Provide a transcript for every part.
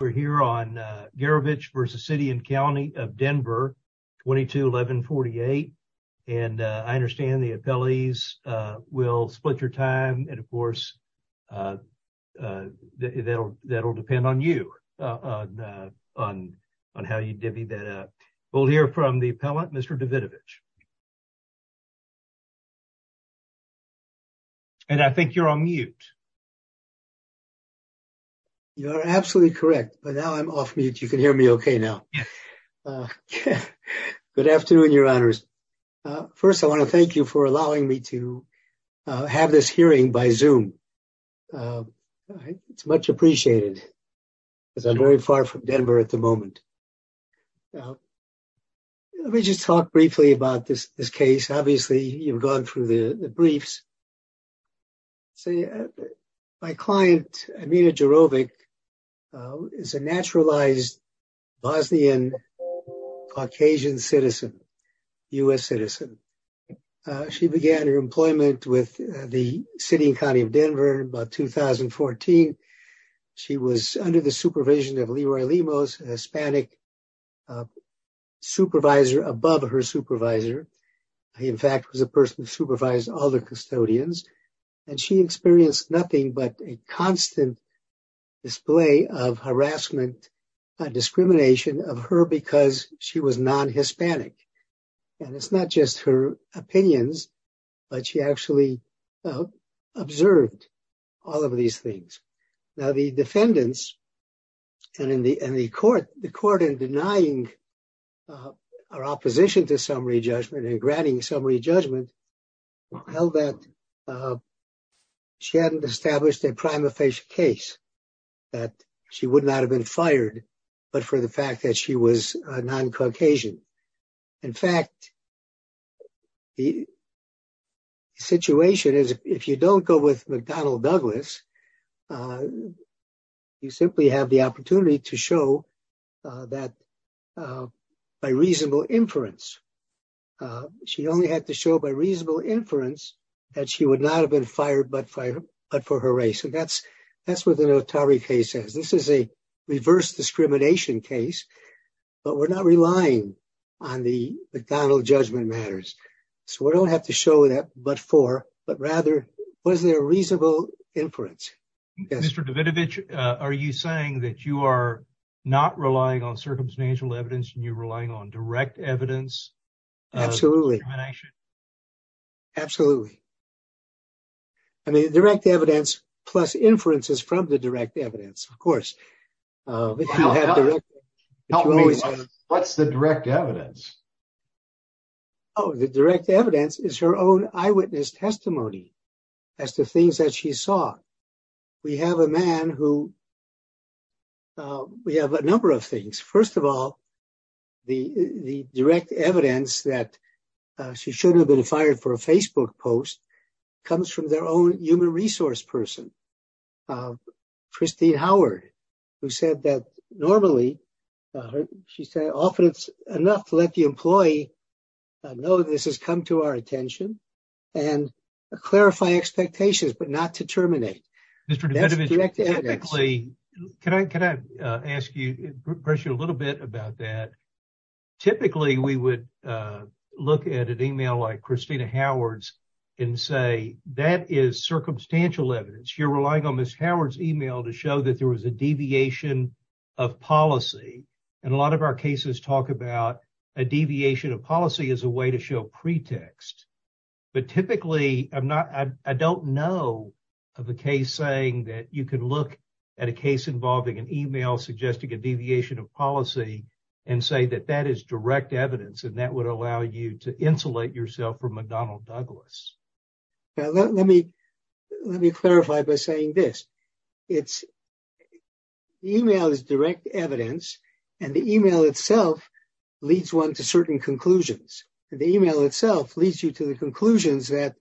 We're here on Gerovic v. City and County of Denver, 22-11-48, and I understand the appellees will split your time, and of course, that'll depend on you, on how you divvy that up. We'll hear from the appellant, Mr. Davidovich. You are absolutely correct, but now I'm off mute. You can hear me okay now. Good afternoon, Your Honors. First, I want to thank you for allowing me to have this hearing by Zoom. It's much appreciated, because I'm very far from Denver at the moment. Let me just talk briefly about this case. Obviously, you've gone through the briefs. My client, Amina Gerovic, is a naturalized Bosnian-Caucasian citizen, U.S. citizen. She began her employment with the City and County of Denver about 2014. She was under the supervision of Leroy Lemos, an Hispanic supervisor above her supervisor. He, in fact, was the person who supervised all the custodians. And she experienced nothing but a constant display of harassment and discrimination of her because she was non-Hispanic. And it's not just her opinions, but she actually observed all of these things. Now, the defendants and the court in denying our opposition to summary judgment and granting summary judgment held that she hadn't established a prima facie case, that she would not have been fired, but for the fact that she was non-Caucasian. In fact, the situation is if you don't go with McDonnell Douglas, you simply have the opportunity to show that by reasonable inference. She only had to show by reasonable inference that she would not have been fired, but for her race. So that's that's what the notary case says. This is a reverse discrimination case, but we're not relying on the McDonnell judgment matters. So we don't have to show that. But for but rather, was there a reasonable inference? Mr. Davidovich, are you saying that you are not relying on circumstantial evidence and you're relying on direct evidence? Absolutely. Absolutely. I mean, direct evidence plus inferences from the direct evidence, of course. What's the direct evidence? Oh, the direct evidence is her own eyewitness testimony as to things that she saw. We have a man who. We have a number of things. First of all, the direct evidence that she shouldn't have been fired for a Facebook post comes from their own human resource person, Christine Howard, who said that normally she said often it's enough to let the employee know this has come to our attention and clarify expectations, but not to terminate. Mr. Davidovich, can I ask you a little bit about that? Typically, we would look at an email like Christina Howard's and say that is circumstantial evidence. You're relying on Ms. Howard's email to show that there was a deviation of policy. And a lot of our cases talk about a deviation of policy as a way to show pretext. But typically, I'm not I don't know of a case saying that you could look at a case involving an email suggesting a deviation of policy and say that that is direct evidence. And that would allow you to insulate yourself from McDonnell Douglas. Let me let me clarify by saying this. It's email is direct evidence and the email itself leads one to certain conclusions. The email itself leads you to the conclusions that,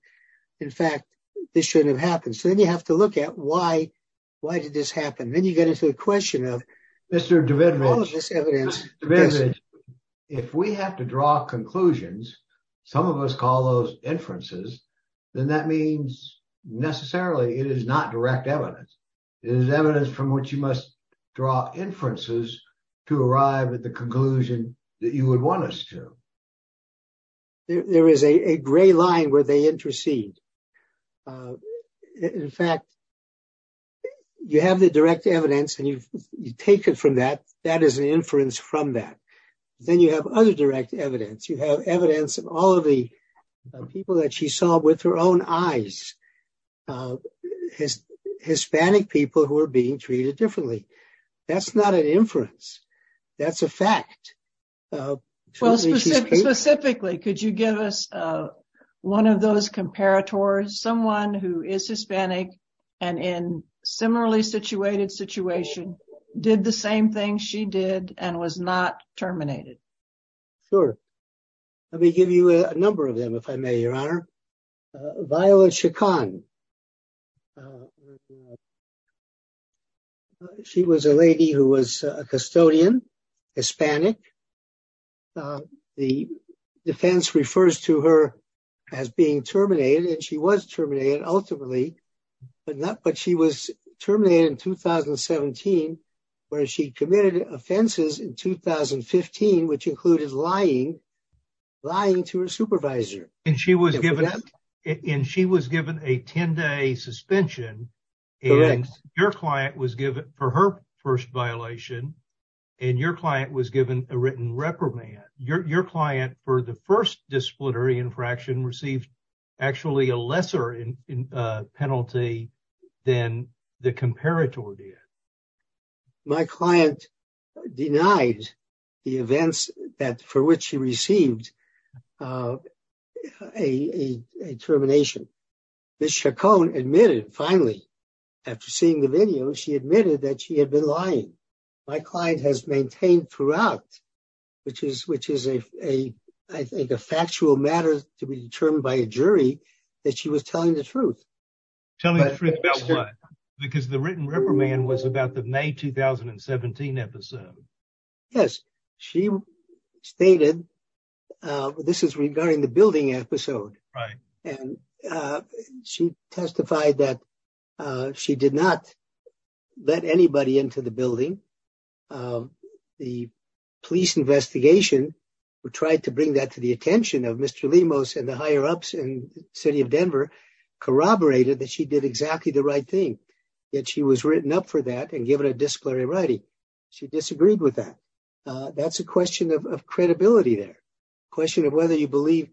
in fact, this shouldn't have happened. So then you have to look at why. Why did this happen? Then you get into the question of Mr. Davidovich. If we have to draw conclusions, some of us call those inferences, then that means necessarily it is not direct evidence. It is evidence from which you must draw inferences to arrive at the conclusion that you would want us to. There is a gray line where they intercede. In fact. You have the direct evidence and you take it from that. That is an inference from that. Then you have other direct evidence. You have evidence of all of the people that she saw with her own eyes. His Hispanic people who are being treated differently. That's not an inference. That's a fact. Specifically, could you give us one of those comparators? Someone who is Hispanic and in similarly situated situation did the same thing she did and was not terminated. Sure. Let me give you a number of them, if I may, Your Honor. Violet Chacon. She was a lady who was a custodian, Hispanic. The defense refers to her as being terminated and she was terminated ultimately. But she was terminated in 2017 where she committed offenses in 2015, which included lying, lying to her supervisor. And she was given and she was given a 10 day suspension. And your client was given for her first violation and your client was given a written reprimand. Your client for the first disciplinary infraction received actually a lesser penalty than the comparator did. My client denied the events that for which she received a termination. Ms. Chacon admitted finally after seeing the video, she admitted that she had been lying. My client has maintained throughout, which is which is a I think a factual matter to be determined by a jury that she was telling the truth. Telling the truth about what? Because the written reprimand was about the May 2017 episode. Yes. She stated this is regarding the building episode. Right. And she testified that she did not let anybody into the building. The police investigation who tried to bring that to the attention of Mr. Lemos and the higher ups in the city of Denver corroborated that she did exactly the right thing. Yet she was written up for that and given a disciplinary writing. She disagreed with that. That's a question of credibility. There question of whether you believe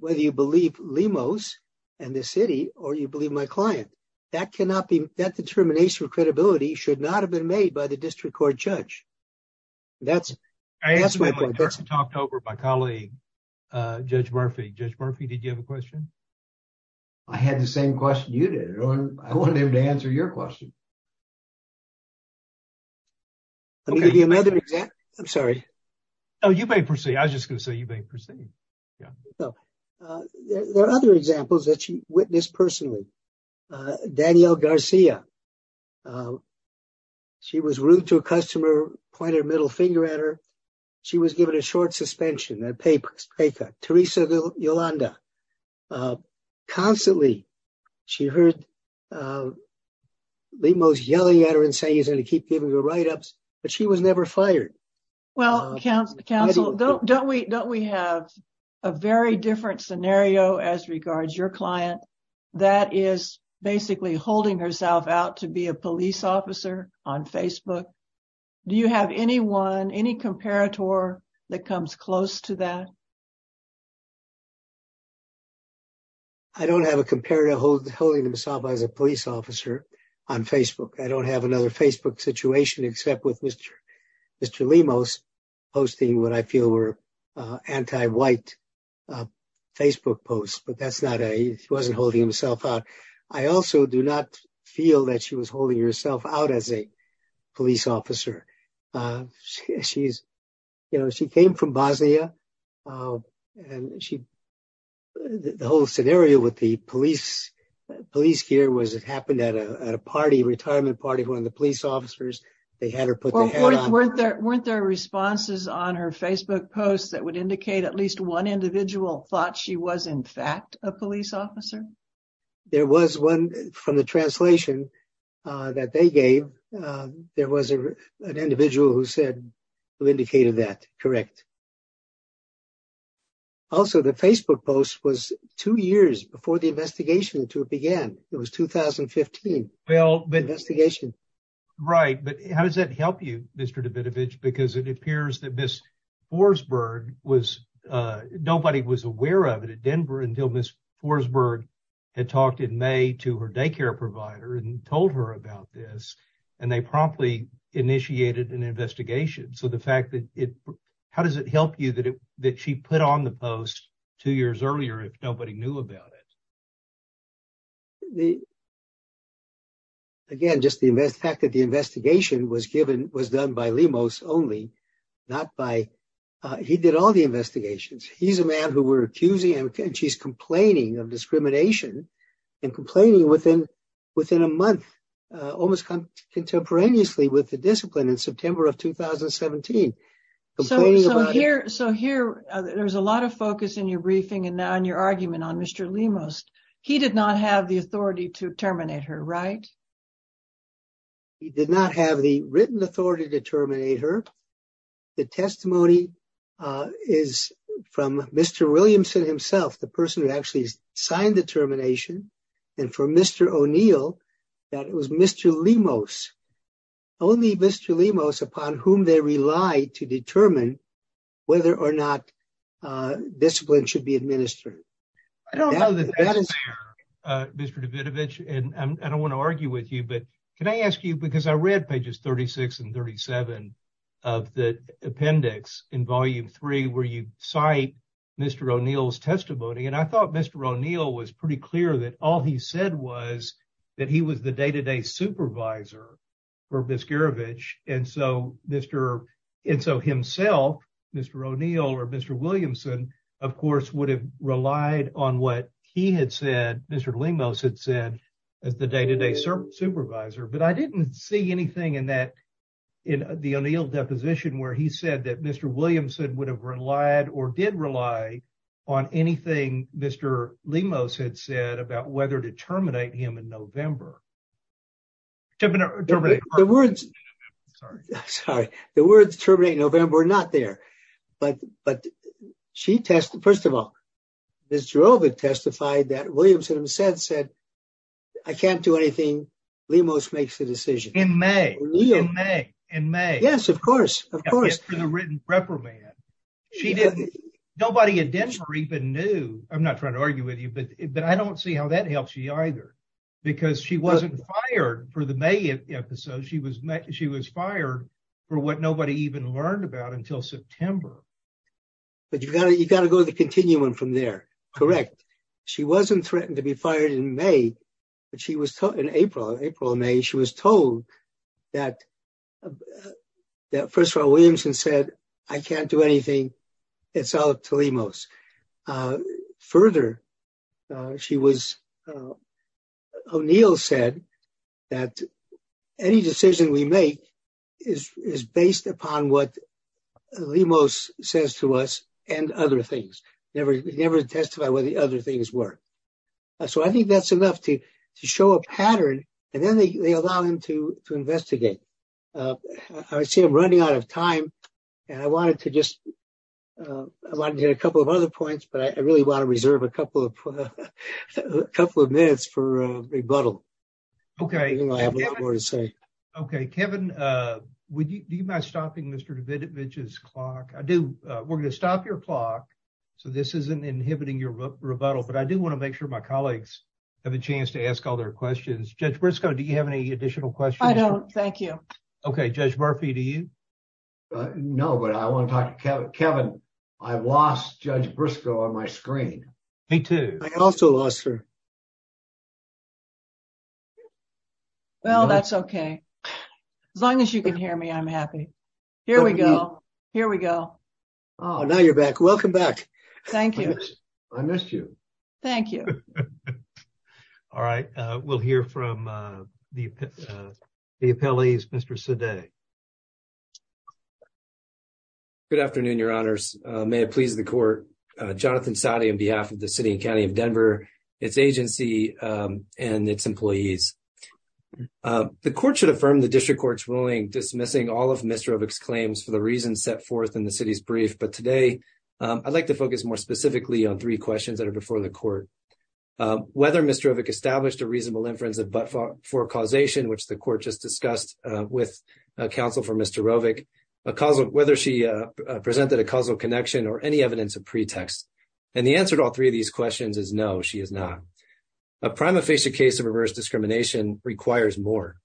whether you believe Lemos and the city or you believe my client. That cannot be that determination of credibility should not have been made by the district court judge. That's that's what I talked over my colleague, Judge Murphy, Judge Murphy. Did you have a question? I had the same question you did. I want him to answer your question. I'm sorry. Oh, you may proceed. I was just going to say you may proceed. There are other examples that you witnessed personally. Daniel Garcia. She was rude to a customer, point her middle finger at her. She was given a short suspension, a pay cut. Teresa Yolanda. Constantly, she heard Lemos yelling at her and saying he's going to keep giving her write ups, but she was never fired. Well, counsel, don't we don't we have a very different scenario as regards your client that is basically holding herself out to be a police officer on Facebook? Do you have anyone, any comparator that comes close to that? I don't have a comparative hold holding himself as a police officer on Facebook. I don't have another Facebook situation except with Mr. Mr. Lemos posting what I feel were anti white Facebook posts. But that's not a he wasn't holding himself out. I also do not feel that she was holding herself out as a police officer. She's, you know, she came from Bosnia. And she. The whole scenario with the police police here was it happened at a party retirement party when the police officers. They had her put their head weren't there weren't there responses on her Facebook posts that would indicate at least one individual thought she was in fact a police officer. There was one from the translation that they gave. There was an individual who said who indicated that. Correct. Also, the Facebook post was two years before the investigation to began. It was 2015. Right. But how does that help you, Mr. David, because it appears that Miss Forsberg was nobody was aware of it at Denver until Miss Forsberg had talked in May to her daycare provider and told her about this. And they promptly initiated an investigation. So the fact that it how does it help you that that she put on the post two years earlier if nobody knew about it. The. Again, just the fact that the investigation was given was done by Lemos only not by. He did all the investigations, he's a man who were accusing him and she's complaining of discrimination and complaining within within a month, almost contemporaneously with the discipline in September of 2017. So here. So here, there's a lot of focus in your briefing and on your argument on Mr. Lemos, he did not have the authority to terminate her right. He did not have the written authority to terminate her. The testimony is from Mr. Williamson himself the person who actually signed the termination. And for Mr. O'Neill. That was Mr. Lemos. Only Mr. Lemos upon whom they rely to determine whether or not discipline should be administered. I don't know that Mr. Davidovich and I don't want to argue with you but can I ask you because I read pages 36 and 37 of the appendix in volume three where you cite Mr. O'Neill's testimony and I thought Mr. O'Neill was pretty clear that all he said was that he was the day to day supervisor for miscarriage. And so, Mr. And so himself, Mr. O'Neill or Mr. Williamson, of course, would have relied on what he had said, Mr. Lemos had said as the day to day supervisor but I didn't see anything in that. In the O'Neill deposition where he said that Mr. Williamson would have relied or did rely on anything, Mr. Lemos had said about whether to terminate him in November. Sorry, the words terminate November not there. But, but she tested first of all, this drove it testified that Williamson said said, I can't do anything. In May, in May, in May, yes, of course, of course, the written reprimand. She didn't, nobody in Denver even knew, I'm not trying to argue with you but but I don't see how that helps you either, because she wasn't fired for the May episode she was met, she was fired for what nobody even learned about until September. But you've got to you got to go to the continuum from there. Correct. She wasn't threatened to be fired in May, but she was taught in April, April, May, she was told that that first of all, Williamson said, I can't do anything. Further, she was O'Neill said that any decision we make is based upon what Lemos says to us, and other things, never, never testify what the other things were. So I think that's enough to show a pattern, and then they allow them to investigate. I see I'm running out of time. And I wanted to just get a couple of other points but I really want to reserve a couple of couple of minutes for rebuttal. Okay. Okay, Kevin. Would you mind stopping Mr David Mitchell's clock, I do. We're going to stop your clock. So this isn't inhibiting your rebuttal but I do want to make sure my colleagues have a chance to ask all their questions. Judge Briscoe Do you have any additional questions. Thank you. Okay, Judge Murphy, do you know but I want to talk to Kevin, Kevin. I lost Judge Briscoe on my screen. Me too. I also lost her. Well, that's okay. As long as you can hear me I'm happy. Here we go. Here we go. Oh, now you're back. Welcome back. Thank you. I missed you. Thank you. All right, we'll hear from the, the appellees Mr today. Good afternoon, your honors, may it please the court, Jonathan Saudi on behalf of the city and county of Denver, its agency, and its employees. The court should affirm the district courts willing dismissing all of Mr of exclaims for the reasons set forth in the city's brief but today, I'd like to focus more specifically on three questions that are before the court. Whether Mr established a reasonable inference of but for causation which the court just discussed with counsel for Mr. Because of whether she presented a causal connection or any evidence of pretext. And the answer to all three of these questions is no she is not a prima facie case of reverse discrimination requires more.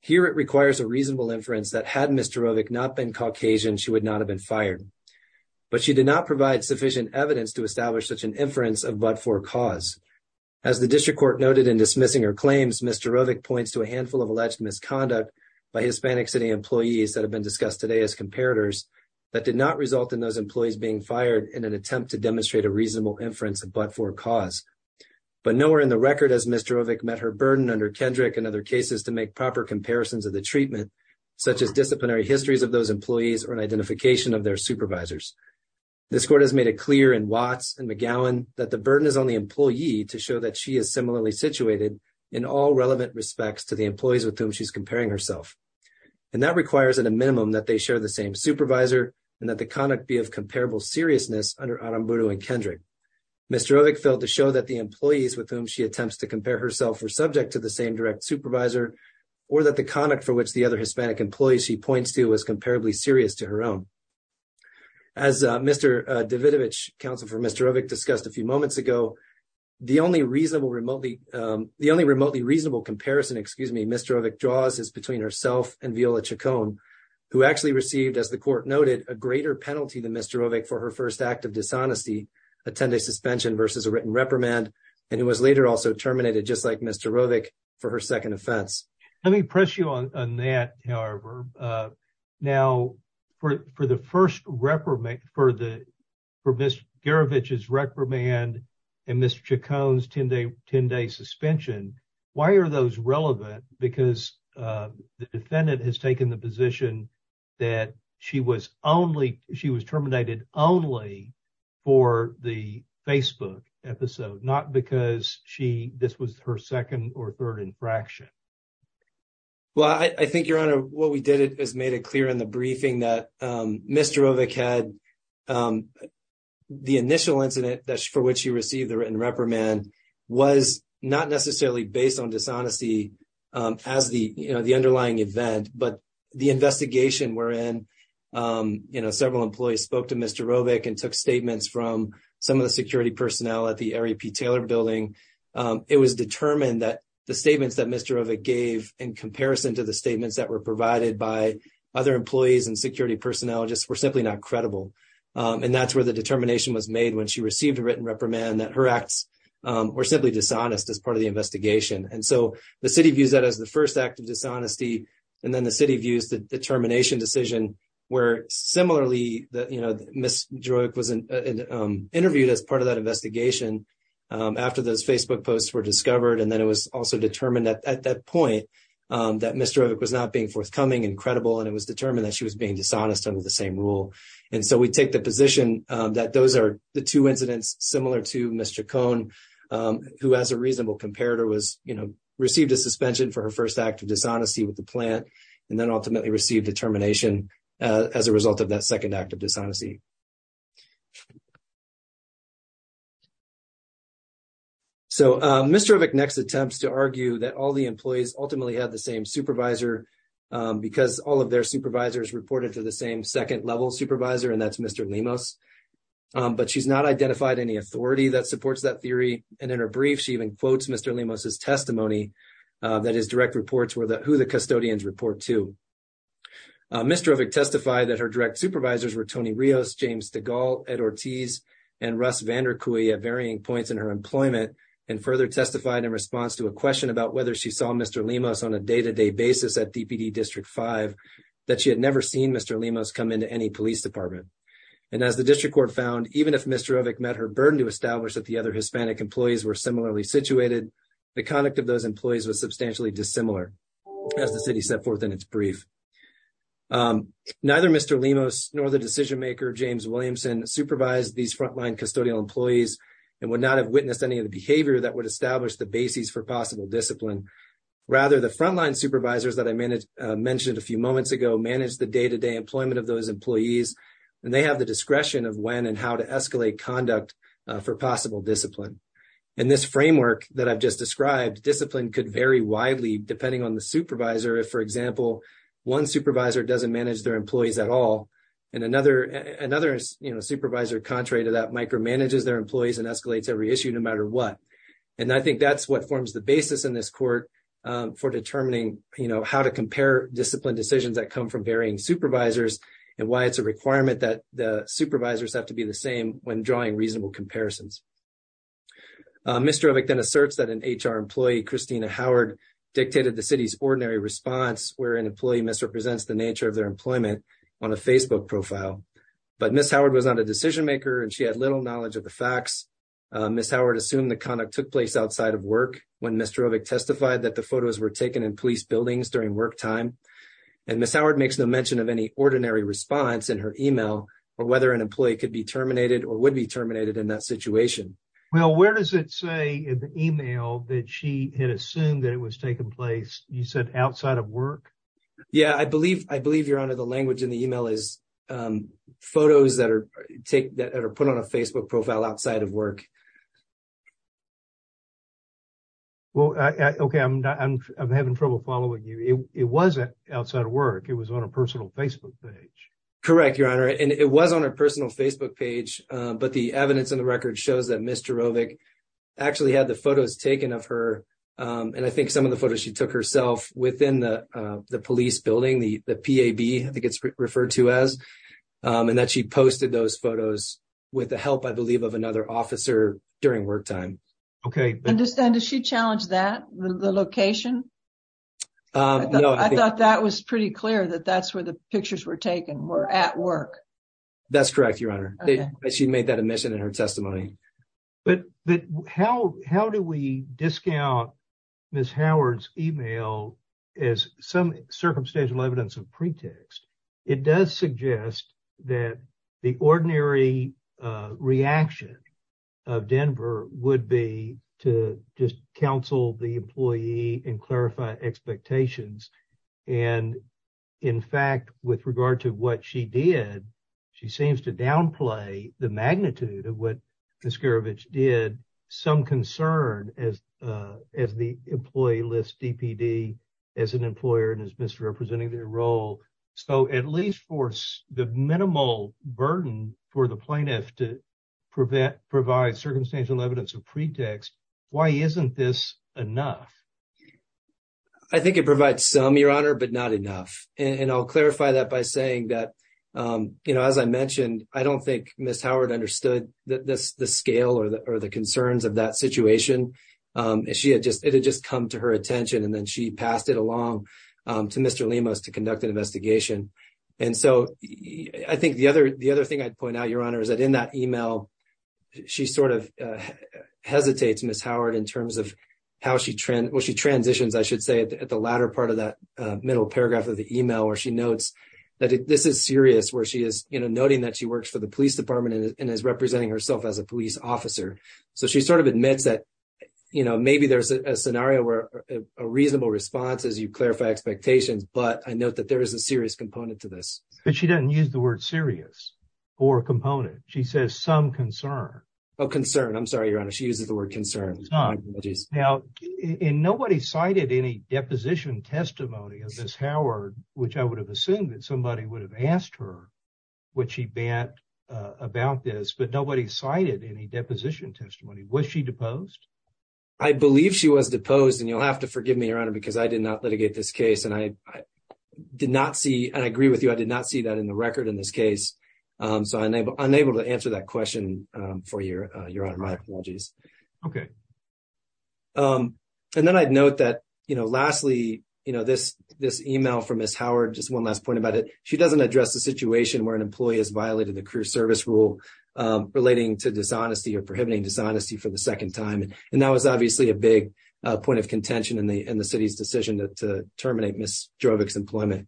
Here it requires a reasonable inference that had Mr. Not been Caucasian she would not have been fired. But she did not provide sufficient evidence to establish such an inference of but for cause, as the district court noted in dismissing or claims Mr points to a handful of alleged misconduct by Hispanic city employees that have been discussed today as comparators, that did not result in those proper comparisons of the treatment, such as disciplinary histories of those employees or an identification of their supervisors. This court has made it clear and Watts and McGowan, that the burden is on the employee to show that she is similarly situated in all relevant respects to the employees with whom she's comparing herself. And that requires at a minimum that they share the same supervisor, and that the conduct be of comparable seriousness, under Arambuda and Kendrick. Mr. Felt to show that the employees with whom she attempts to compare herself or subject to the same direct supervisor, or that the conduct for which the other Hispanic employees she points to was comparably serious to her own. Let me press you on that. However, now, for, for the first reprimand for the for this garbage is reprimand and Mr cones 10 day 10 day suspension. Why are those relevant, because the defendant has taken the position that she was only she was terminated only for the Facebook episode not because she, this was her second or third infraction. Well, I think your honor, what we did is made it clear in the briefing that Mr. In comparison to the statements that were provided by other employees and security personnel just were simply not credible. And that's where the determination was made when she received a written reprimand that her acts were simply dishonest as part of the investigation. And so the city views that as the 1st act of dishonesty. And then the city views the determination decision, where, similarly, that, you know, Miss drug was interviewed as part of that investigation. After those Facebook posts were discovered, and then it was also determined that at that point, that Mr. It was not being forthcoming incredible, and it was determined that she was being dishonest under the same rule. And so we take the position that those are the 2 incidents similar to Mr. Cone, who has a reasonable comparator was received a suspension for her 1st act of dishonesty with the plant. And then ultimately received determination as a result of that 2nd, active dishonesty. So, Mr. next attempts to argue that all the employees ultimately have the same supervisor, because all of their supervisors reported to the same 2nd level supervisor. And that's Mr. But she's not identified any authority that supports that theory. And in her brief, she even quotes Mr. That is direct reports where the, who the custodians report to. Mr. Testify that her direct supervisors were Tony Rios, James, the goal at Ortiz and Russ Vander Kooi at varying points in her employment and further testified in response to a question about whether she saw Mr. On a day to day basis at district 5 that she had never seen Mr. Lemos come into any police department. And as the district court found, even if Mr met her burden to establish that the other Hispanic employees were similarly situated, the conduct of those employees was substantially dissimilar as the city set forth in its brief. Neither Mr. Nor the decision maker, James Williamson supervised these frontline custodial employees and would not have witnessed any of the behavior that would establish the basis for possible discipline. Rather, the frontline supervisors that I mentioned a few moments ago, manage the day to day employment of those employees, and they have the discretion of when and how to escalate conduct for possible discipline. And this framework that I've just described discipline could vary widely depending on the supervisor. If, for example, one supervisor doesn't manage their employees at all. And another another supervisor, contrary to that, micro manages their employees and escalates every issue no matter what. And I think that's what forms the basis in this court for determining how to compare discipline decisions that come from varying supervisors and why it's a requirement that the supervisors have to be the same when drawing reasonable comparisons. Mr. Then asserts that an HR employee, Christina Howard dictated the city's ordinary response where an employee misrepresents the nature of their employment on a Facebook profile. But Miss Howard was not a decision maker and she had little knowledge of the facts. Miss Howard assumed the conduct took place outside of work. When Mr. Testified that the photos were taken in police buildings during work time. And Miss Howard makes no mention of any ordinary response in her email, or whether an employee could be terminated or would be terminated in that situation. Well, where does it say in the email that she had assumed that it was taking place? You said outside of work. Yeah, I believe I believe you're under the language in the email is photos that are take that are put on a Facebook profile outside of work. Well, okay, I'm not I'm having trouble following you. It wasn't outside of work. It was on a personal Facebook page. Correct your honor, and it was on a personal Facebook page, but the evidence in the record shows that Mr. Actually had the photos taken of her. And I think some of the photos she took herself within the, the police building, the, the, I think it's referred to as, and that she posted those photos with the help. I believe of another officer during work time. Okay. Understand. Is she challenged that the location? I thought that was pretty clear that that's where the pictures were taken were at work. That's correct. Your honor, she made that admission in her testimony. But, but how, how do we discount Miss Howard's email is some circumstantial evidence of pretext. It does suggest that the ordinary reaction of Denver would be to just counsel the employee and clarify expectations. And, in fact, with regard to what she did, she seems to downplay the magnitude of what the scurvy did some concern as, as the employee list DPD as an employer and as Mr representing their role. So, at least for the minimal burden for the plaintiff to prevent provide circumstantial evidence of pretext. Why isn't this enough. I think it provides some, your honor, but not enough. And I'll clarify that by saying that, as I mentioned, I don't think Miss Howard understood that the scale or the, or the concerns of that situation. She had just, it had just come to her attention and then she passed it along to Mr limos to conduct an investigation. And so, I think the other, the other thing I'd point out, your honor, is that in that email. She sort of hesitates Miss Howard in terms of how she trend when she transitions, I should say, at the latter part of that middle paragraph of the email or she notes that this is serious where she is noting that she works for the police department and is representing herself as a police officer. So she sort of admits that, you know, maybe there's a scenario where a reasonable response as you clarify expectations, but I note that there is a serious component to this, but she doesn't use the word serious or component, she says some concern. Oh, concern. I'm sorry, your honor. She uses the word concern. Now, and nobody cited any deposition testimony of this Howard, which I would have assumed that somebody would have asked her what she bet about this, but nobody cited any deposition testimony. Was she deposed? I believe she was deposed and you'll have to forgive me, your honor, because I did not litigate this case and I did not see and I agree with you. I did not see that in the record in this case. So, I'm able to answer that question for your, your honor. My apologies. Okay. And then I'd note that, you know, lastly, you know, this, this email from Miss Howard, just 1 last point about it. She doesn't address the situation where an employee has violated the crew service rule relating to dishonesty or prohibiting dishonesty for the 2nd time. And that was obviously a big point of contention in the, in the city's decision to terminate Miss Drovic's employment.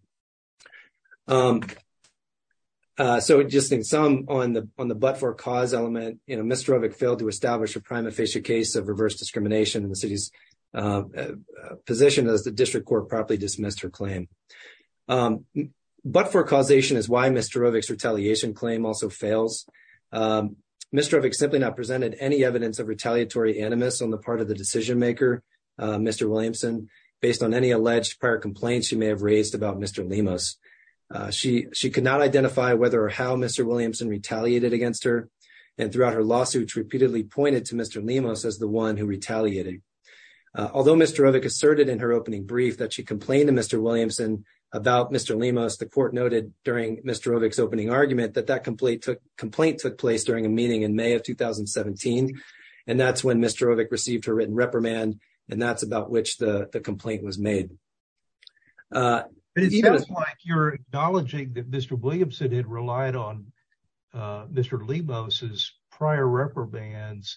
So, just in some on the, on the, but for cause element, you know, Mr failed to establish a prime official case of reverse discrimination in the city's position as the district court properly dismissed her claim. But for causation is why Mr retaliation claim also fails. Mr. simply not presented any evidence of retaliatory animus on the part of the decision maker. Mr. Williamson, based on any alleged prior complaints, you may have raised about Mr. She, she could not identify whether or how Mr. Williamson retaliated against her and throughout her lawsuits repeatedly pointed to Mr. Although Mr asserted in her opening brief that she complained to Mr. Williamson about Mr. The court noted during Mr opening argument that that complaint took complaint took place during a meeting in May of 2017. And that's when Mr received her written reprimand. And that's about which the complaint was made. You're acknowledging that Mr. Williamson had relied on. Mr. Lee Moses prior reprimands.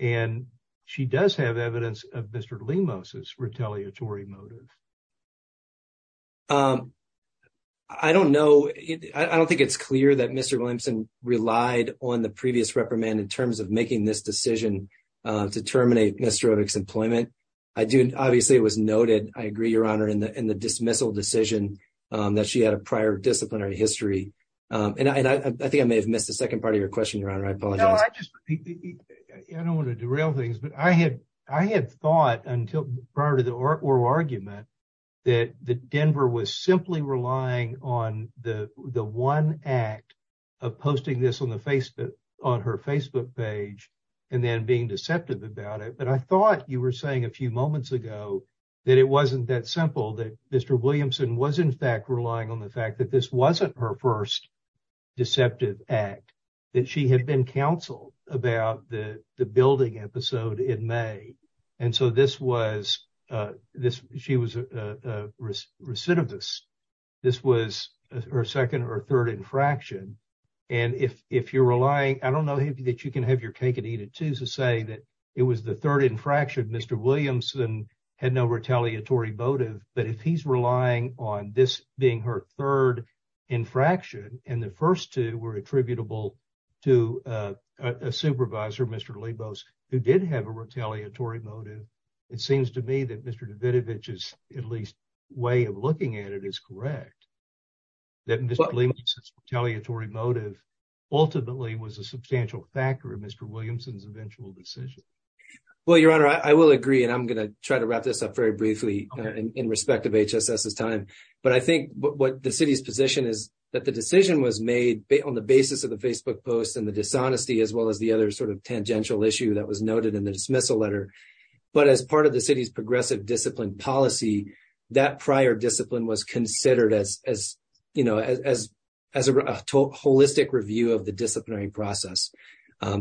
And she does have evidence of Mr. Moses retaliatory motive. I don't know. I don't think it's clear that Mr. Williamson relied on the previous reprimand in terms of making this decision to terminate Mr. Employment. I do. Obviously, it was noted. I agree. Your honor in the, in the dismissal decision that she had a prior disciplinary history. And I think I may have missed the 2nd part of your question. Your honor. I apologize. I don't want to do real things, but I had, I had thought until prior to the argument. That the Denver was simply relying on the, the 1 act of posting this on the face on her Facebook page. And then being deceptive about it, but I thought you were saying a few moments ago that it wasn't that simple that Mr. Williamson was in fact relying on the fact that this wasn't her 1st deceptive act that she had been counseled about the building episode in May. And so this was this. She was a recidivist. This was her 2nd or 3rd infraction. And if, if you're relying, I don't know that you can have your cake and eat it to say that it was the 3rd infraction. Mr. Williamson had no retaliatory motive, but if he's relying on this being her 3rd infraction, and the 1st 2 were attributable. To a supervisor, Mr. who did have a retaliatory motive. It seems to me that Mr. is at least. Way of looking at it is correct that retaliatory motive. Ultimately was a substantial factor in Mr. Williamson's eventual decision. Well, your honor, I will agree, and I'm going to try to wrap this up very briefly in respect of his time, but I think what the city's position is that the decision was made on the basis of the Facebook post and the dishonesty as well as the other sort of tangential issue that was noted in the dismissal letter. But as part of the city's progressive discipline policy, that prior discipline was considered as as, you know, as, as a holistic review of the disciplinary process.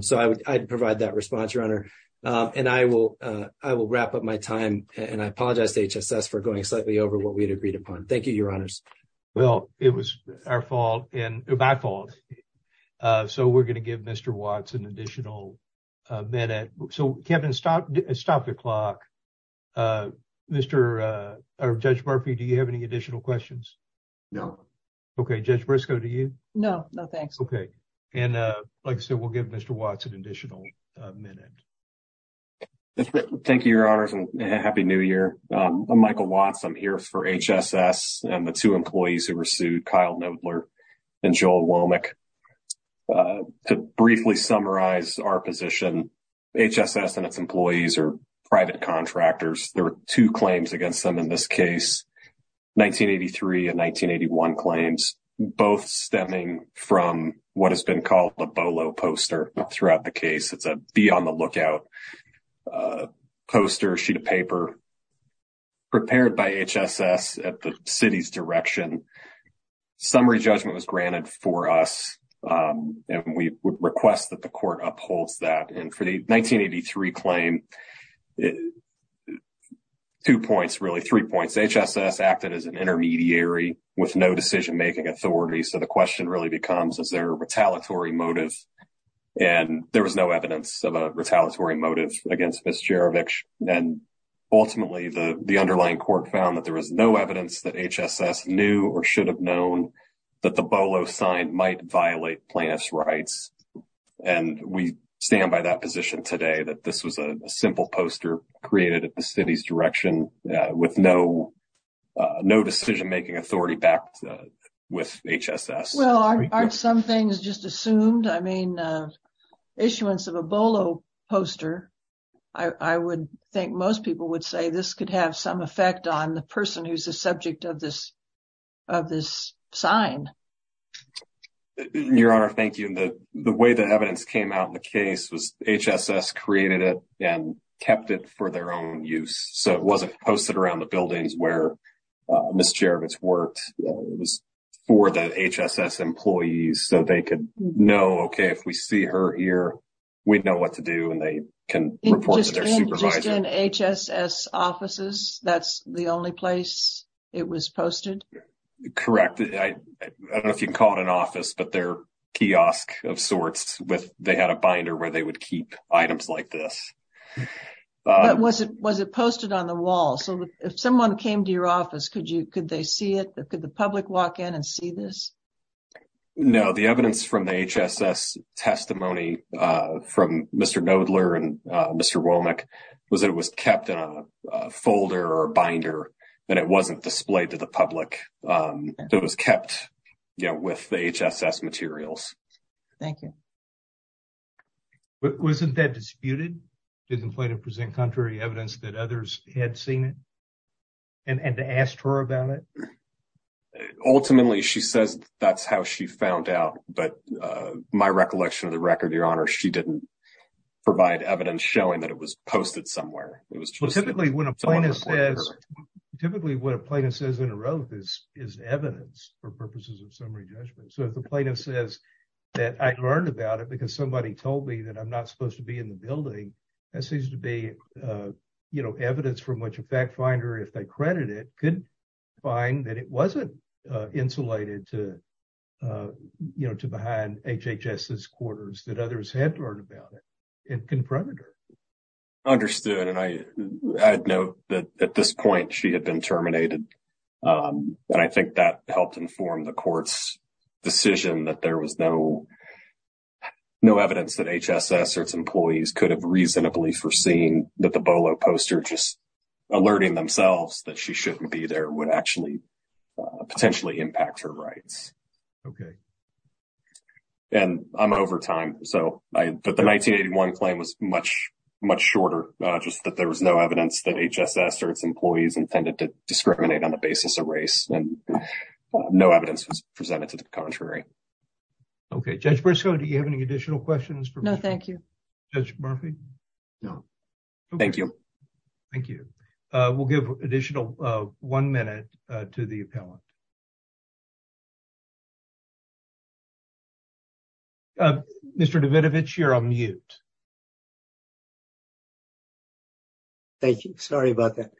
So, I would provide that response runner and I will, I will wrap up my time and I apologize for going slightly over what we'd agreed upon. Thank you. Your honors. Well, it was our fault and my fault. So, we're going to give Mr. Watts an additional. So, Kevin, stop stop the clock. Uh, Mr, uh, or judge Murphy, do you have any additional questions? No. Okay, just Briscoe to you. No, no, thanks. Okay. And, uh, like I said, we'll give Mr. Watson additional minute. Thank you, your honors and happy new year. I'm Michael Watson here for and the 2 employees who were sued Kyle and Joel. To briefly summarize our position. And its employees are private contractors. There are 2 claims against them in this case. 1983 and 1981 claims, both stemming from what has been called the bolo poster throughout the case. It's a be on the lookout. A poster sheet of paper. Prepared by at the city's direction. Summary judgment was granted for us, and we would request that the court upholds that and for the 1983 claim. 2 points, really 3 points acted as an intermediary with no decision making authority. So the question really becomes, is there a retaliatory motive? And there was no evidence of a retaliatory motive against this. And. Ultimately, the underlying court found that there was no evidence that HSS knew, or should have known. That the bolo sign might violate plaintiff's rights. And we stand by that position today that this was a simple poster created at the city's direction with no. No decision making authority back with. Well, aren't some things just assumed? I mean, issuance of a bolo. I would think most people would say this could have some effect on the person who's a subject of this. Of this sign, your honor, thank you. And the, the way the evidence came out in the case was HSS created it and kept it for their own use. So it wasn't posted around the buildings where. Miss Jarvis worked, it was. For the HSS employees, so they could know, okay, if we see her here. We know what to do, and they can report to their supervisor and HSS offices. That's the only place. It was posted correct. I don't know if you can call it an office, but their kiosk of sorts with, they had a binder where they would keep items like this. Was it was it posted on the wall? So if someone came to your office, could you could they see it? Could the public walk in and see this? No, the evidence from the HSS testimony from Mr. Nodler and Mr. Was it was kept in a folder or binder, and it wasn't displayed to the public. It was kept with the HSS materials. Thank you. Wasn't that disputed didn't play to present contrary evidence that others had seen it. And asked her about it. Ultimately, she says that's how she found out. But my recollection of the record, your honor, she didn't. Provide evidence showing that it was posted somewhere. It was typically when a plaintiff says typically what a plaintiff says in a row. This is evidence for purposes of summary judgment. So, if the plaintiff says that I learned about it because somebody told me that I'm not supposed to be in the building. That seems to be evidence from which a fact finder, if they credit, it could find that it wasn't insulated to. You know, to behind quarters that others had learned about it. Understood and I know that at this point, she had been terminated. And I think that helped inform the courts decision that there was no. No evidence that HSS or its employees could have reasonably foreseen that the poster just. Alerting themselves that she shouldn't be there would actually. Potentially impact her rights. Okay. And I'm over time, so I put the 1981 claim was much, much shorter, just that there was no evidence that HSS or its employees intended to discriminate on the basis of race. And no evidence was presented to the contrary. Okay, judge Briscoe, do you have any additional questions? No, thank you. Judge Murphy. No, thank you. Thank you. We'll give additional 1 minute to the appellant. Mr. Davidovich, you're on mute. Thank you. Sorry about that.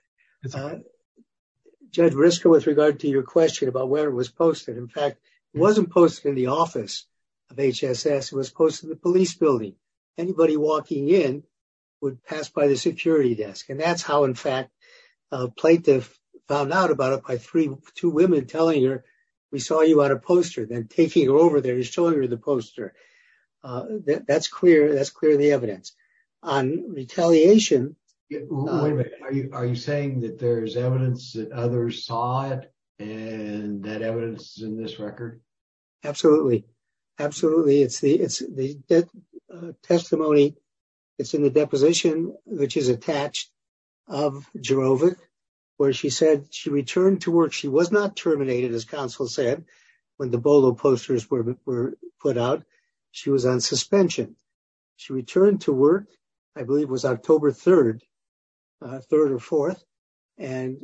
Judge Briscoe with regard to your question about where it was posted. In fact, wasn't posted in the office of HSS was posted the police building. Anybody walking in would pass by the security desk. And that's how in fact. Plaintiff found out about it by three, two women telling her, we saw you on a poster then taking her over there and showing her the poster. That's clear, that's clear the evidence on retaliation. Are you saying that there's evidence that others saw it. And that evidence in this record. Absolutely. Absolutely. It's the, it's the testimony. It's in the deposition, which is attached of Jehovah, where she said she returned to work she was not terminated as counsel said when the bolo posters were put out. She was on suspension. She returned to work. I believe was October 3rd, 3rd or 4th. And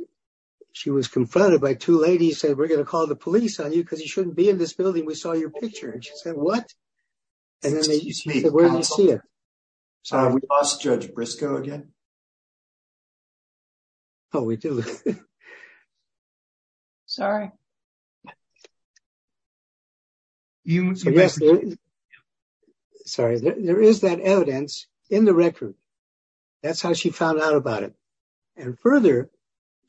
she was confronted by two ladies said we're going to call the police on you because you shouldn't be in this building we saw your picture and she said what. And then they used to where you see it. Sorry, we lost Judge Briscoe again. Oh, we do. Sorry. You. Sorry, there is that evidence in the record. That's how she found out about it. And further,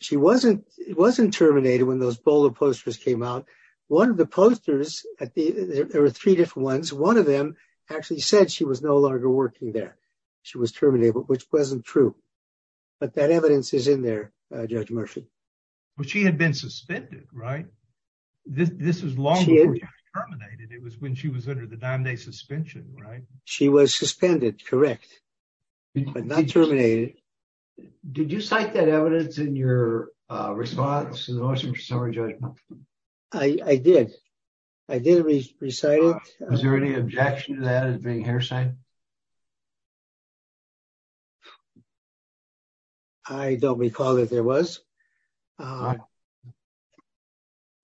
she wasn't, it wasn't terminated when those polar posters came out. One of the posters at the, there were three different ones, one of them actually said she was no longer working there. She was terminated but which wasn't true. But that evidence is in there. Judge Murphy. But she had been suspended right. This is long terminated it was when she was under the damn day suspension, right, she was suspended. Correct. But not terminated. Did you cite that evidence in your response to the summary judgment. I did. I didn't recite it. Is there any objection to that as being her side. I don't recall that there was.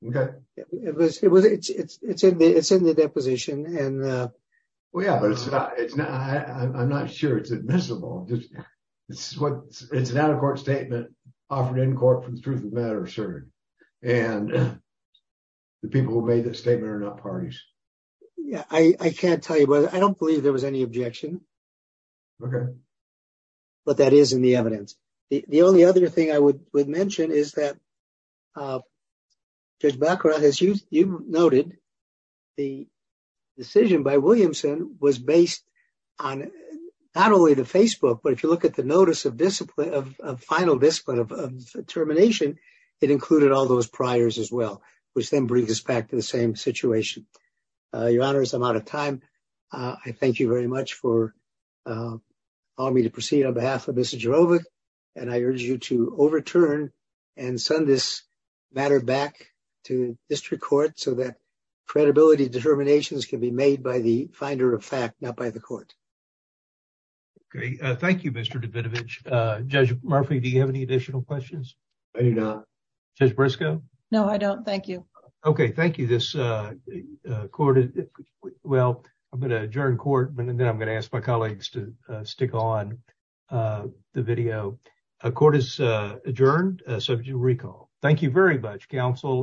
Okay, it was it was it's it's it's in the it's in the deposition and. Well yeah but it's not it's not I'm not sure it's admissible. Yeah, I can't tell you but I don't believe there was any objection. Okay. But that is in the evidence. The only other thing I would would mention is that background as you noted, the decision by Williamson was based on not only the Facebook but if you look at the notice of discipline of final discipline of termination. It included all those priors as well, which then brings us back to the same situation. Your Honor is I'm out of time. I thank you very much for all me to proceed on behalf of Mr. And I urge you to overturn and send this matter back to district court so that credibility determinations can be made by the finder of fact, not by the court. Thank you, Mr. Judge Murphy Do you have any additional questions. Just Briscoe. No, I don't. Thank you. Okay, thank you. This court. Well, I'm going to adjourn court and then I'm going to ask my colleagues to stick on the video. A court is adjourned. So if you recall, thank you very much counsel.